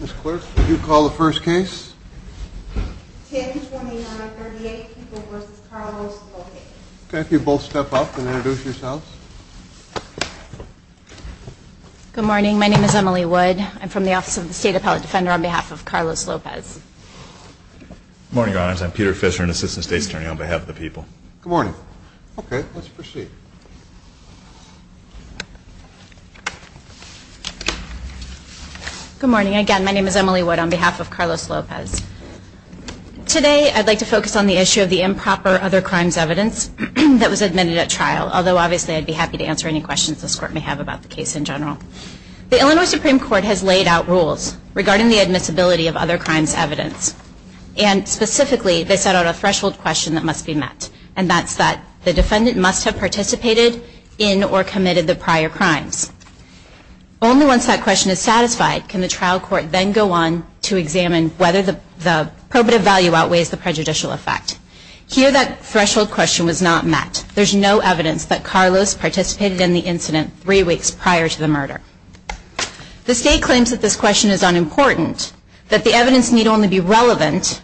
Ms. Clerk, would you call the first case? Okay, if you both step up and introduce yourselves. Good morning. My name is Emily Wood. I'm from the Office of the State Appellate Defender on behalf of Carlos Lopez. Good morning, Your Honors. I'm Peter Fisher, an Assistant State Attorney on behalf of the people. Good morning. Okay, let's proceed. Good morning. Again, my name is Emily Wood on behalf of Carlos Lopez. Today, I'd like to focus on the issue of the improper other crimes evidence that was admitted at trial, although obviously I'd be happy to answer any questions this Court may have about the case in general. The Illinois Supreme Court has laid out rules regarding the admissibility of other crimes evidence. And specifically, they set out a threshold question that must be met, in or committed the prior crimes. Only once that question is satisfied can the trial court then go on to examine whether the probative value outweighs the prejudicial effect. Here, that threshold question was not met. There's no evidence that Carlos participated in the incident three weeks prior to the murder. The State claims that this question is unimportant, that the evidence need only be relevant,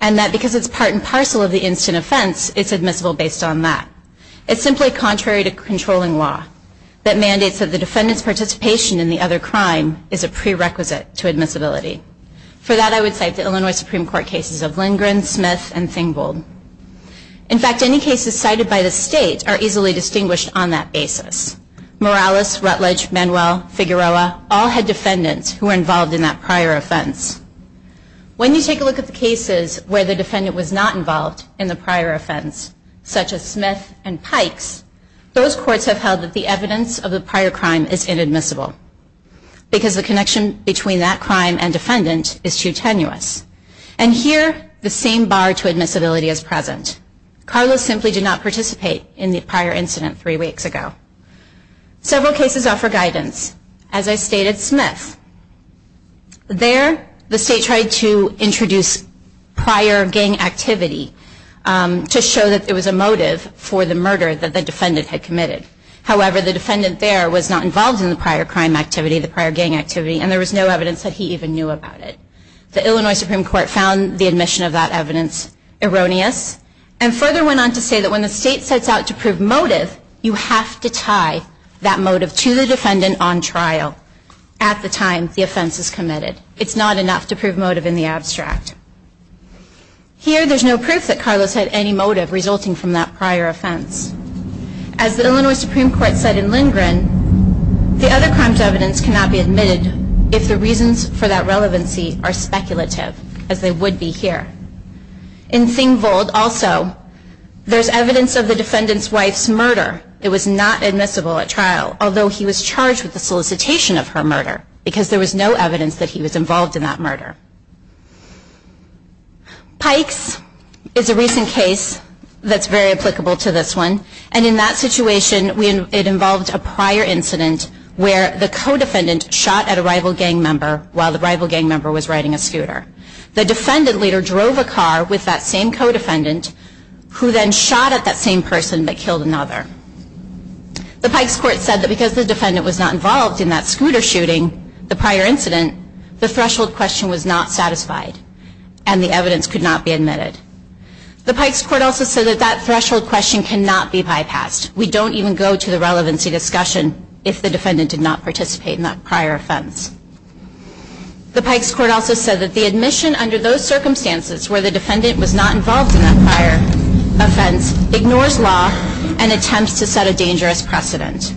and that because it's part and parcel of the instant offense, it's admissible based on that. It's simply contrary to controlling law that mandates that the defendant's participation in the other crime is a prerequisite to admissibility. For that, I would cite the Illinois Supreme Court cases of Lindgren, Smith, and Thingold. In fact, any cases cited by the State are easily distinguished on that basis. Morales, Rutledge, Manuel, Figueroa all had defendants who were involved in that prior offense. When you take a look at the cases where the defendant was not involved in the prior offense, such as Smith and Pikes, those courts have held that the evidence of the prior crime is inadmissible because the connection between that crime and defendant is too tenuous. And here, the same bar to admissibility is present. Carlos simply did not participate in the prior incident three weeks ago. Several cases offer guidance. As I stated, Smith. There, the State tried to introduce prior gang activity to show that there was a motive for the murder that the defendant had committed. However, the defendant there was not involved in the prior crime activity, the prior gang activity, and there was no evidence that he even knew about it. The Illinois Supreme Court found the admission of that evidence erroneous and further went on to say that when the State sets out to prove motive, you have to tie that motive to the defendant on trial at the time the offense is committed. It's not enough to prove motive in the abstract. Here, there's no proof that Carlos had any motive resulting from that prior offense. As the Illinois Supreme Court said in Lindgren, the other crime's evidence cannot be admitted if the reasons for that relevancy are speculative, as they would be here. In Thingvold, also, there's evidence of the defendant's wife's murder. It was not admissible at trial, although he was charged with the solicitation of her murder, because there was no evidence that he was involved in that murder. Pikes is a recent case that's very applicable to this one, and in that situation, it involved a prior incident where the co-defendant shot at a rival gang member while the rival gang member was riding a scooter. The defendant later drove a car with that same co-defendant who then shot at that same person, but killed another. The Pikes court said that because the defendant was not involved in that scooter shooting, the prior incident, the threshold question was not asked. It was not satisfied, and the evidence could not be admitted. The Pikes court also said that that threshold question cannot be bypassed. We don't even go to the relevancy discussion if the defendant did not participate in that prior offense. The Pikes court also said that the admission under those circumstances where the defendant was not involved in that prior offense ignores law and attempts to set a dangerous precedent.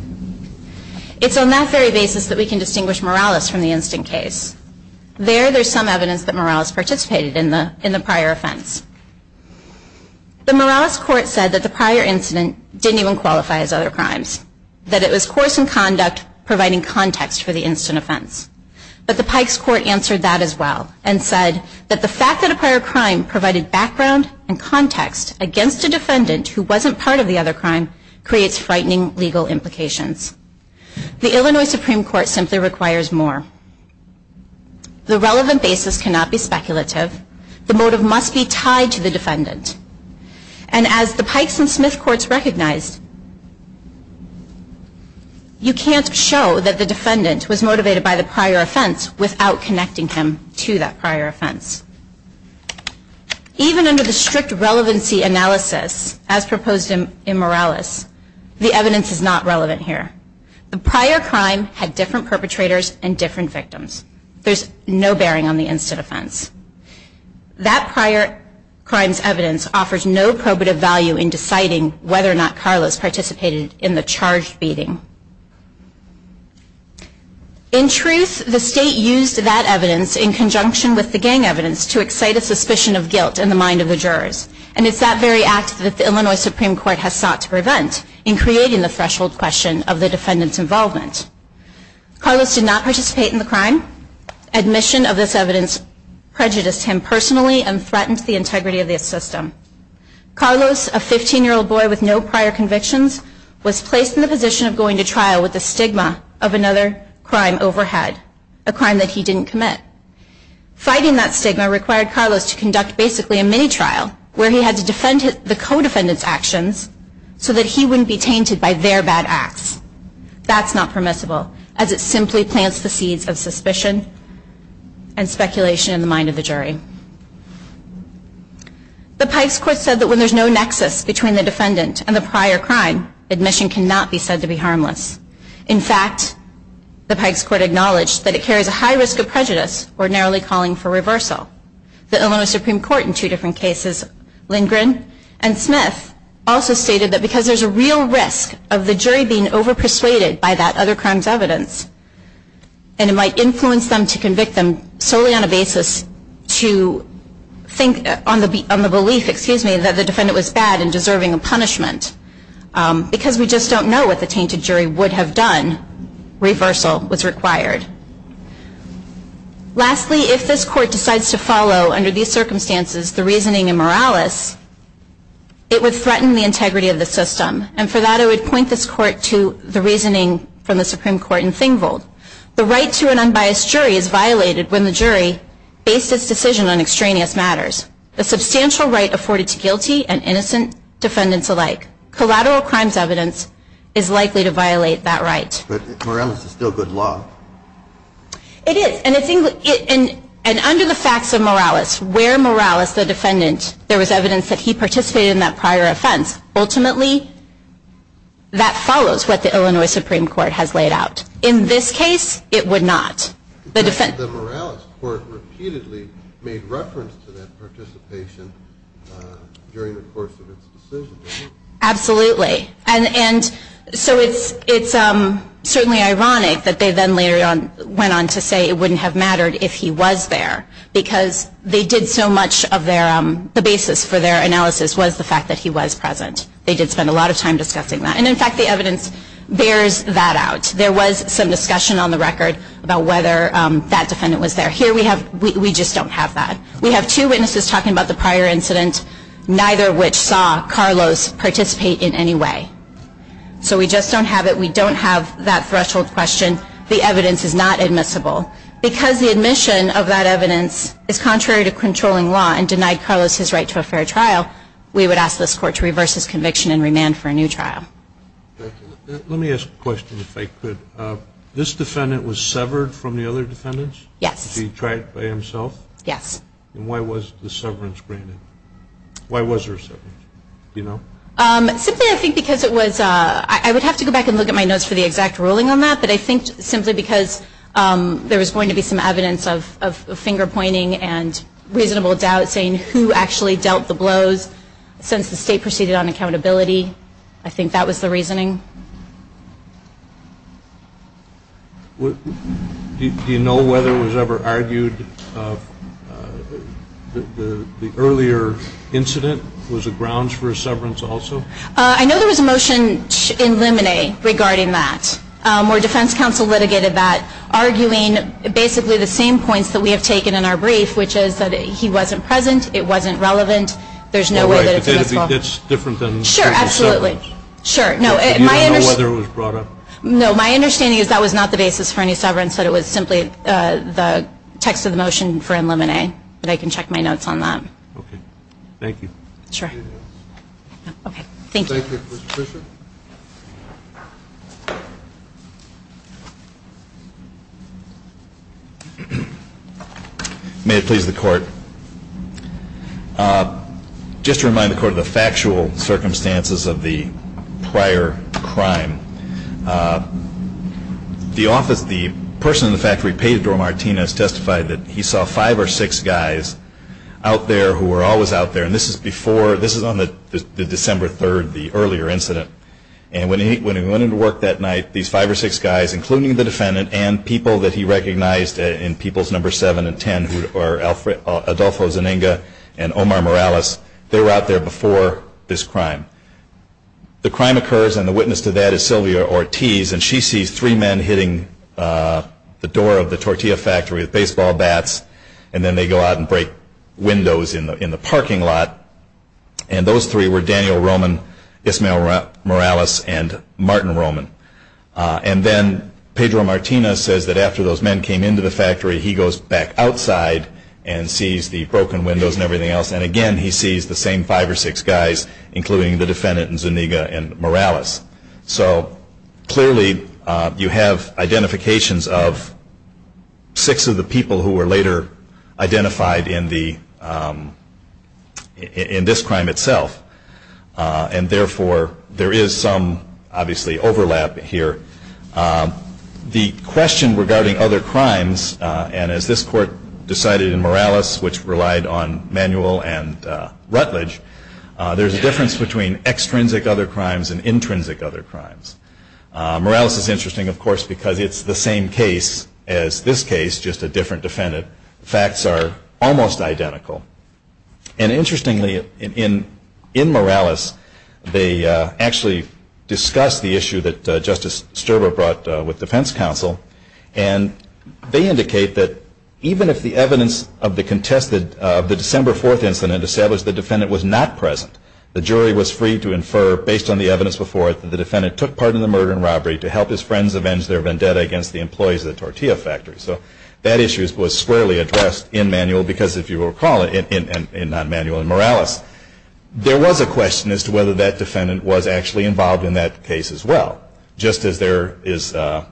It's on that very basis that we can distinguish Morales from the instant case. There, there's some evidence that Morales participated in the prior offense. The Morales court said that the prior incident didn't even qualify as other crimes. That it was course and conduct providing context for the instant offense. But the Pikes court answered that as well and said that the fact that a prior crime provided background and context against a defendant who wasn't part of the other crime creates frightening legal implications. The Illinois Supreme Court simply requires more. The relevant basis cannot be speculative. The motive must be tied to the defendant. And as the Pikes and Smith courts recognized, you can't show that the defendant was motivated by the prior offense without connecting him to that prior offense. Even under the strict relevancy analysis as proposed in Morales, the evidence is not relevant here. The prior crime had different perpetrators and different victims. There's no bearing on the instant offense. That prior crime's evidence offers no probative value in deciding whether or not Carlos participated in the charged beating. In truth, the state used that evidence in conjunction with the gang evidence to excite a suspicion of guilt in the mind of the jurors. And it's that very act that the Illinois Supreme Court has sought to prevent in creating the threshold question of the defendant's involvement. Carlos did not participate in the crime. Admission of this evidence prejudiced him personally and threatened the integrity of the system. Carlos, a 15-year-old boy with no prior convictions, was placed in the position of going to trial with the stigma of another crime overhead. A crime that he didn't commit. Fighting that stigma required Carlos to conduct basically a mini-trial where he had to defend the co-defendant's actions so that he wouldn't be tainted by their bad acts. That's not permissible as it simply plants the seeds of suspicion and speculation in the mind of the jury. The Pikes Court said that when there's no nexus between the defendant and the prior crime, admission cannot be said to be harmless. In fact, the Pikes Court acknowledged that it carries a high risk of prejudice or narrowly calling for reversal. The Illinois Supreme Court in two different cases, Lindgren and Smith, also stated that because there's a real risk of the jury being over-persuaded by that other crime's evidence, and it might influence them to convict them solely on a basis to think on the belief that the defendant was bad and deserving of punishment, because we just don't know what the tainted jury would have done, reversal was required. Lastly, if this Court decides to follow, under these circumstances, the reasoning in Morales, it would threaten the integrity of the system. And for that, I would point this Court to the reasoning from the Supreme Court in Thingvold. The right to an unbiased jury is violated when the jury based its decision on extraneous matters. A substantial right afforded to guilty and innocent defendants alike. Collateral crime's evidence is likely to violate that right. But Morales is still good law. It is, and under the facts of Morales, where Morales, the defendant, there was evidence that he participated in that prior offense. Ultimately, that follows what the Illinois Supreme Court has laid out. In this case, it would not. The Morales Court repeatedly made reference to that participation during the course of its decision. Absolutely. And so it's certainly ironic that they then later went on to say it wouldn't have mattered if he was there, because they did so much of their, the basis for their analysis was the fact that he was present. They did spend a lot of time discussing that. And in fact, the evidence bears that out. There was some discussion on the record about whether that defendant was there. Here we have, we just don't have that. We have two witnesses talking about the prior incident, neither of which saw Carlos participate in any way. So we just don't have it. We don't have that threshold question. The evidence is not admissible. Because the admission of that evidence is contrary to controlling law and denied Carlos his right to a fair trial, we would ask this Court to reverse his conviction and remand for a new trial. Let me ask a question, if I could. This defendant was severed from the other defendants? Yes. Did he try it by himself? Yes. And why was the severance granted? Why was there a severance? Do you know? Simply, I think because it was, I would have to go back and look at my notes for the exact ruling on that. But I think simply because there was going to be some evidence of finger-pointing and reasonable doubt saying who actually dealt the blows since the State proceeded on accountability. I think that was the reasoning. Do you know whether it was ever argued that the earlier incident was a grounds for a severance also? I know there was a motion in Limine regarding that. Where defense counsel litigated that, arguing basically the same points that we have taken in our brief, which is that he wasn't present, it wasn't relevant, there's no way that it's a miscalculation. That's different than the severance. Sure, absolutely. You don't know whether it was brought up? No, my understanding is that was not the basis for any severance, that it was simply the text of the motion for in Limine. But I can check my notes on that. Okay. Thank you. Sure. Okay. Thank you. Thank you. Mr. Fischer? May it please the Court. Just to remind the Court of the factual circumstances of the prior crime. The person in the factory, Pedro Martinez, testified that he saw five or six guys out there who were always out there. And this is before, this is on the December 3rd, the earlier incident. And when he went into work that night, these five or six guys, including the defendant, and people that he recognized in peoples number 7 and 10, who are Adolfo Zeninga and Omar Morales, they were out there before this crime. The crime occurs, and the witness to that is Sylvia Ortiz, and she sees three men hitting the door of the tortilla factory with baseball bats, and then they go out and break windows in the parking lot. And those three were Daniel Roman, Ismael Morales, and Martin Roman. And then Pedro Martinez says that after those men came into the factory, he goes back outside and sees the broken windows and everything else, and again he sees the same five or six guys, including the defendant and Zeninga and Morales. So clearly you have identifications of six of the people who were later identified in this crime itself. And therefore, there is some, obviously, overlap here. The question regarding other crimes, and as this court decided in Morales, which relied on manual and rutledge, there's a difference between extrinsic other crimes and intrinsic other crimes. Morales is interesting, of course, because it's the same case as this case, just a different defendant. The facts are almost identical. And interestingly, in Morales, they actually discuss the issue that Justice Sterber brought with defense counsel, and they indicate that even if the evidence of the contested, of the December 4th incident established the defendant was not present, the jury was free to infer, based on the evidence before it, that the defendant took part in the murder and robbery to help his friends avenge their vendetta against the employees of the tortilla factory. So that issue was squarely addressed in manual, because if you recall, in non-manual in Morales, there was a question as to whether that defendant was actually involved in that case as well, just as there is a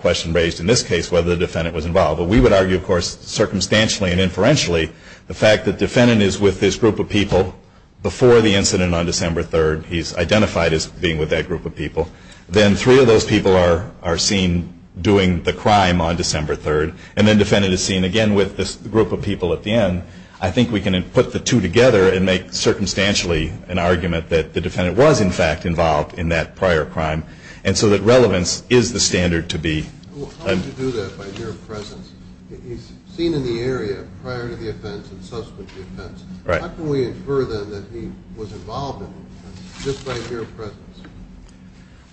question raised in this case whether the defendant was involved. But we would argue, of course, circumstantially and inferentially, the fact that the defendant is with this group of people before the incident on December 3rd, he's identified as being with that group of people, then three of those people are seen doing the crime on December 3rd, and then the defendant is seen again with this group of people at the end. I think we can put the two together and make circumstantially an argument that the defendant was, in fact, involved in that prior crime, and so that relevance is the standard to be. How would you do that by mere presence? He's seen in the area prior to the offense and subsequent to the offense. How can we infer, then, that he was involved in the offense just by mere presence?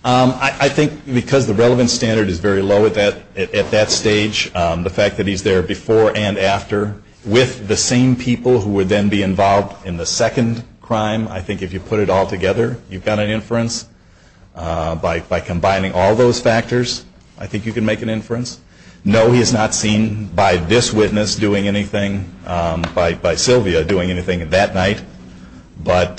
I think because the relevance standard is very low at that stage, the fact that he's there before and after, with the same people who would then be involved in the second crime, I think if you put it all together, you've got an inference. By combining all those factors, I think you can make an inference. No, he is not seen by this witness doing anything, by Sylvia doing anything that night. But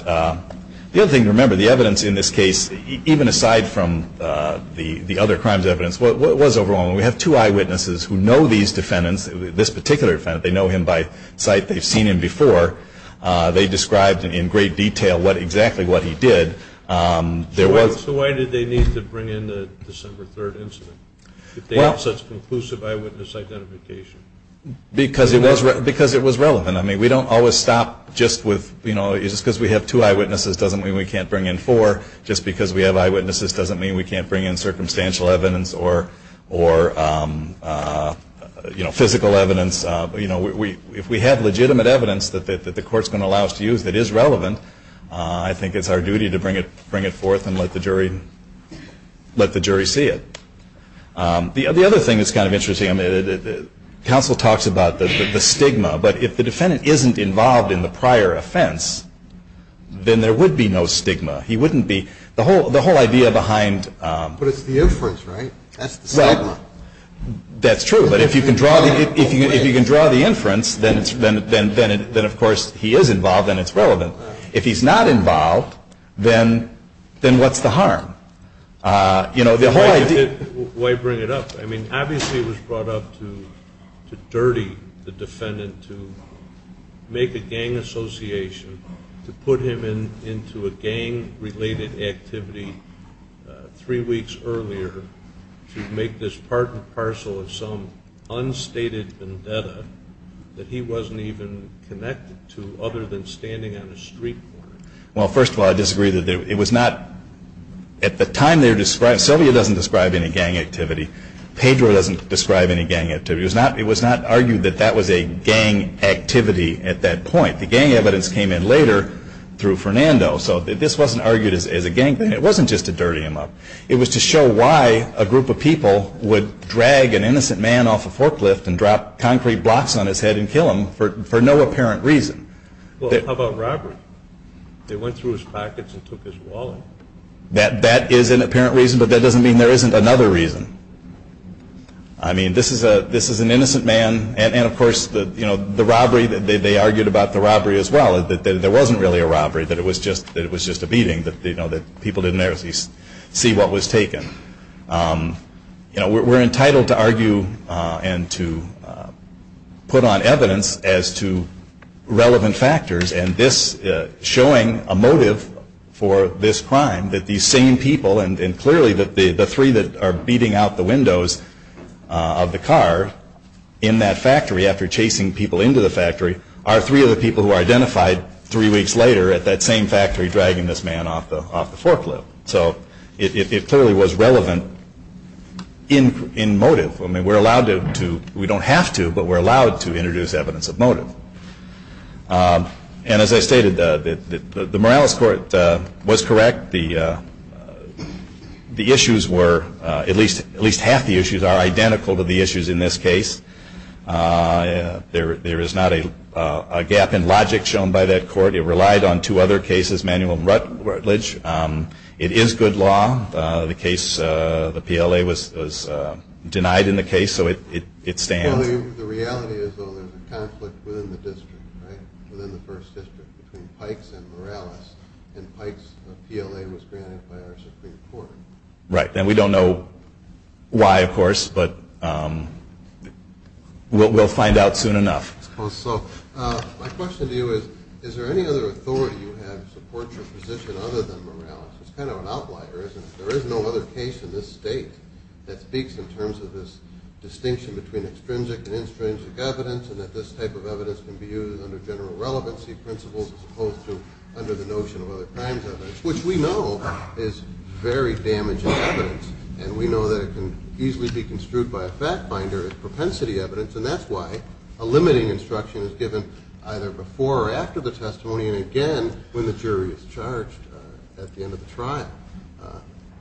the other thing to remember, the evidence in this case, even aside from the other crimes evidence, was overwhelming. We have two eyewitnesses who know these defendants, this particular defendant. They know him by sight. They've seen him before. They described in great detail exactly what he did. So why did they need to bring in the December 3rd incident if they have such conclusive eyewitness identification? Because it was relevant. We don't always stop just because we have two eyewitnesses doesn't mean we can't bring in four. Just because we have eyewitnesses doesn't mean we can't bring in circumstantial evidence or physical evidence. If we have legitimate evidence that the court is going to allow us to use that is relevant, I think it's our duty to bring it forth and let the jury see it. The other thing that's kind of interesting, counsel talks about the stigma, but if the defendant isn't involved in the prior offense, then there would be no stigma. He wouldn't be. The whole idea behind. But it's the inference, right? That's the stigma. Well, that's true. But if you can draw the inference, then of course he is involved and it's relevant. If he's not involved, then what's the harm? You know, the whole idea. Why bring it up? I mean, obviously it was brought up to dirty the defendant, to make a gang association, to put him into a gang-related activity three weeks earlier, to make this part and parcel of some unstated vendetta that he wasn't even connected to other than standing on a street corner. Well, first of all, I disagree. It was not at the time they were describing. Sylvia doesn't describe any gang activity. Pedro doesn't describe any gang activity. It was not argued that that was a gang activity at that point. The gang evidence came in later through Fernando. So this wasn't argued as a gang thing. It wasn't just to dirty him up. It was to show why a group of people would drag an innocent man off a forklift and drop concrete blocks on his head and kill him for no apparent reason. Well, how about robbery? They went through his pockets and took his wallet. That is an apparent reason, but that doesn't mean there isn't another reason. I mean, this is an innocent man. And, of course, the robbery, they argued about the robbery as well, that there wasn't really a robbery, that it was just a beating, that people didn't actually see what was taken. You know, we're entitled to argue and to put on evidence as to relevant factors. And this showing a motive for this crime, that these same people, and clearly the three that are beating out the windows of the car in that factory after chasing people into the factory, are three of the people who are identified three weeks later at that same factory dragging this man off the forklift. So it clearly was relevant in motive. I mean, we're allowed to, we don't have to, but we're allowed to introduce evidence of motive. And as I stated, the Morales Court was correct. The issues were, at least half the issues are identical to the issues in this case. There is not a gap in logic shown by that court. It relied on two other cases, Manuel and Rutledge. It is good law. The case, the PLA was denied in the case, so it stands. Well, the reality is, though, there's a conflict within the district, right, within the first district between Pikes and Morales, and Pikes PLA was granted by our Supreme Court. Right. And we don't know why, of course, but we'll find out soon enough. So my question to you is, is there any other authority you have to support your position other than Morales? It's kind of an outlier, isn't it? There is no other case in this state that speaks in terms of this distinction between extrinsic and extrinsic evidence and that this type of evidence can be used under general relevancy principles as opposed to under the notion of other crimes evidence, which we know is very damaging evidence, and we know that it can easily be construed by a fact finder as propensity evidence, and that's why a limiting instruction is given either before or after the testimony, and again, when the jury is charged at the end of the trial.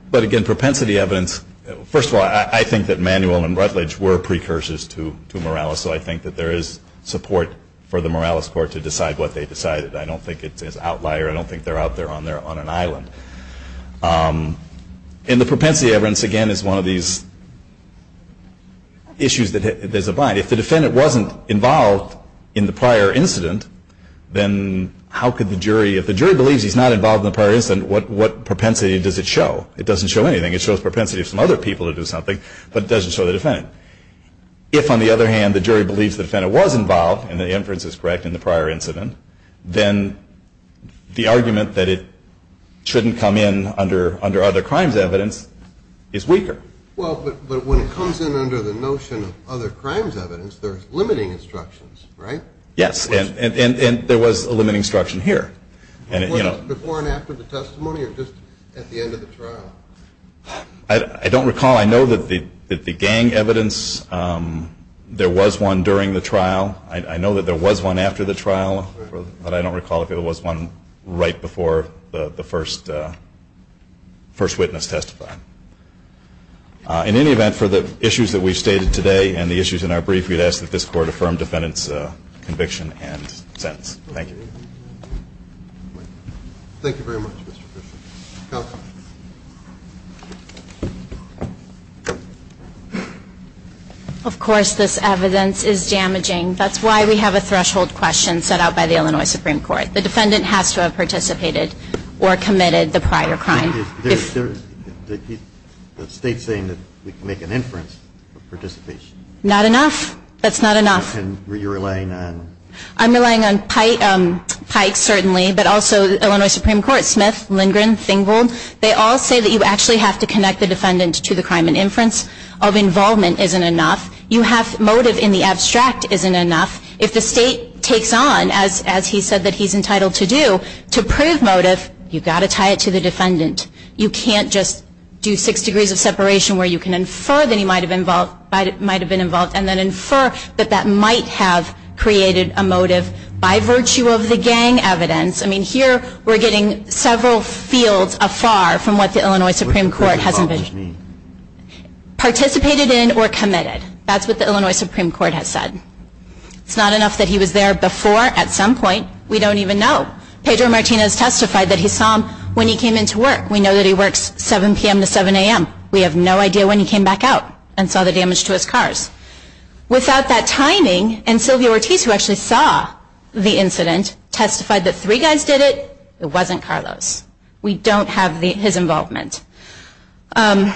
But again, propensity evidence, first of all, I think that Manuel and Rutledge were precursors to Morales, so I think that there is support for the Morales court to decide what they decided. I don't think it's an outlier. I don't think they're out there on an island. And the propensity evidence, again, is one of these issues that there's a bind. If the defendant wasn't involved in the prior incident, then how could the jury, if the jury believes he's not involved in the prior incident, what propensity does it show? It doesn't show anything. It shows propensity of some other people to do something, but it doesn't show the defendant. If, on the other hand, the jury believes the defendant was involved, and the inference is correct in the prior incident, then the argument that it shouldn't come in under other crimes evidence is weaker. Well, but when it comes in under the notion of other crimes evidence, there's limiting instructions, right? Yes, and there was a limiting instruction here. Before and after the testimony or just at the end of the trial? I don't recall. I know that the gang evidence, there was one during the trial. I know that there was one after the trial, but I don't recall if there was one right before the first witness testified. In any event, for the issues that we've stated today and the issues in our brief, we'd ask that this Court affirm defendant's conviction and sentence. Thank you. Thank you very much, Mr. Fisher. Counsel? Of course, this evidence is damaging. That's why we have a threshold question set out by the Illinois Supreme Court. The defendant has to have participated or committed the prior crime. The State's saying that we can make an inference of participation. Not enough. That's not enough. And you're relying on? I'm relying on Pike, certainly, but also Illinois Supreme Court, Smith, Lindgren, Thingold. They all say that you actually have to connect the defendant to the crime. An inference of involvement isn't enough. You have motive in the abstract isn't enough. If the State takes on, as he said that he's entitled to do, to prove motive, you've got to tie it to the defendant. You can't just do six degrees of separation where you can infer that he might have been involved and then infer that that might have created a motive by virtue of the gang evidence. I mean, here we're getting several fields afar from what the Illinois Supreme Court has envisioned. Participated in or committed. That's what the Illinois Supreme Court has said. It's not enough that he was there before at some point. We don't even know. Pedro Martinez testified that he saw him when he came into work. We know that he works 7 p.m. to 7 a.m. We have no idea when he came back out and saw the damage to his cars. Without that timing, and Sylvia Ortiz, who actually saw the incident, testified that three guys did it. It wasn't Carlos. We don't have his involvement. In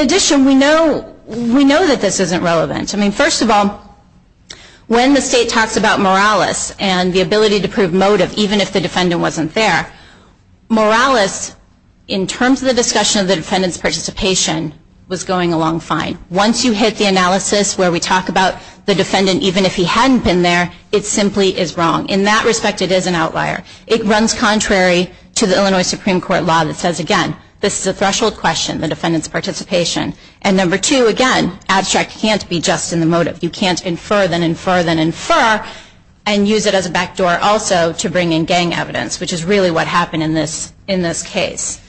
addition, we know that this isn't relevant. I mean, first of all, when the State talks about moralis and the ability to prove motive, even if the defendant wasn't there, moralis, in terms of the discussion of the defendant's participation, was going along fine. Once you hit the analysis where we talk about the defendant, even if he hadn't been there, it simply is wrong. In that respect, it is an outlier. It runs contrary to the Illinois Supreme Court law that says, again, this is a threshold question, the defendant's participation. And number two, again, abstract can't be just in the motive. You can't infer, then infer, then infer, and use it as a backdoor also to bring in gang evidence, which is really what happened in this case.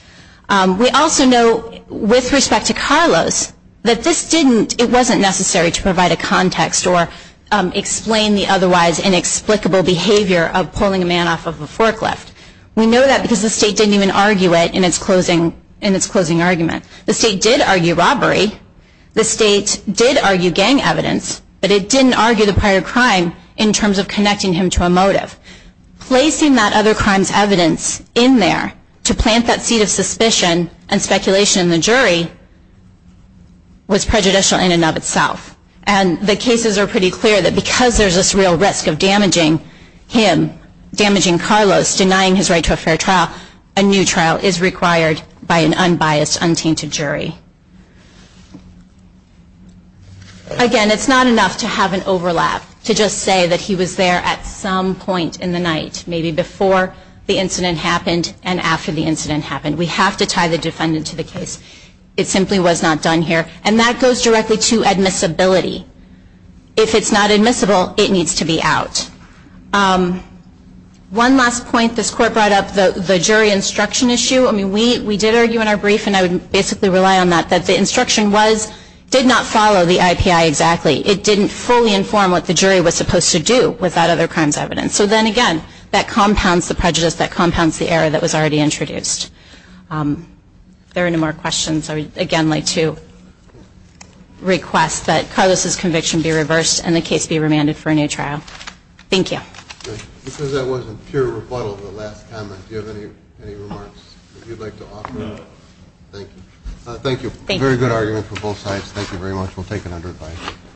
We also know, with respect to Carlos, that this didn't, it wasn't necessary to provide a context or explain the otherwise inexplicable behavior of pulling a man off of a forklift. We know that because the State didn't even argue it in its closing argument. The State did argue robbery. The State did argue gang evidence. But it didn't argue the prior crime in terms of connecting him to a motive. Placing that other crime's evidence in there to plant that seed of suspicion and speculation in the jury was prejudicial in and of itself. And the cases are pretty clear that because there's this real risk of damaging him, damaging Carlos, denying his right to a fair trial, a new trial is required by an unbiased, untainted jury. Again, it's not enough to have an overlap, to just say that he was there at some point in the night, maybe before the incident happened and after the incident happened. We have to tie the defendant to the case. It simply was not done here. And that goes directly to admissibility. If it's not admissible, it needs to be out. One last point. This Court brought up the jury instruction issue. I mean, we did argue in our brief, and I would basically rely on that, that the instruction did not follow the IPI exactly. It didn't fully inform what the jury was supposed to do with that other crime's evidence. So then again, that compounds the prejudice, that compounds the error that was already introduced. If there are no more questions, I would again like to request that Carlos' conviction be reversed and the case be remanded for a new trial. Thank you. Because that wasn't pure rebuttal to the last comment, do you have any remarks that you'd like to offer? No. Thank you. Thank you. Very good argument from both sides. Thank you very much. We'll take it under advice.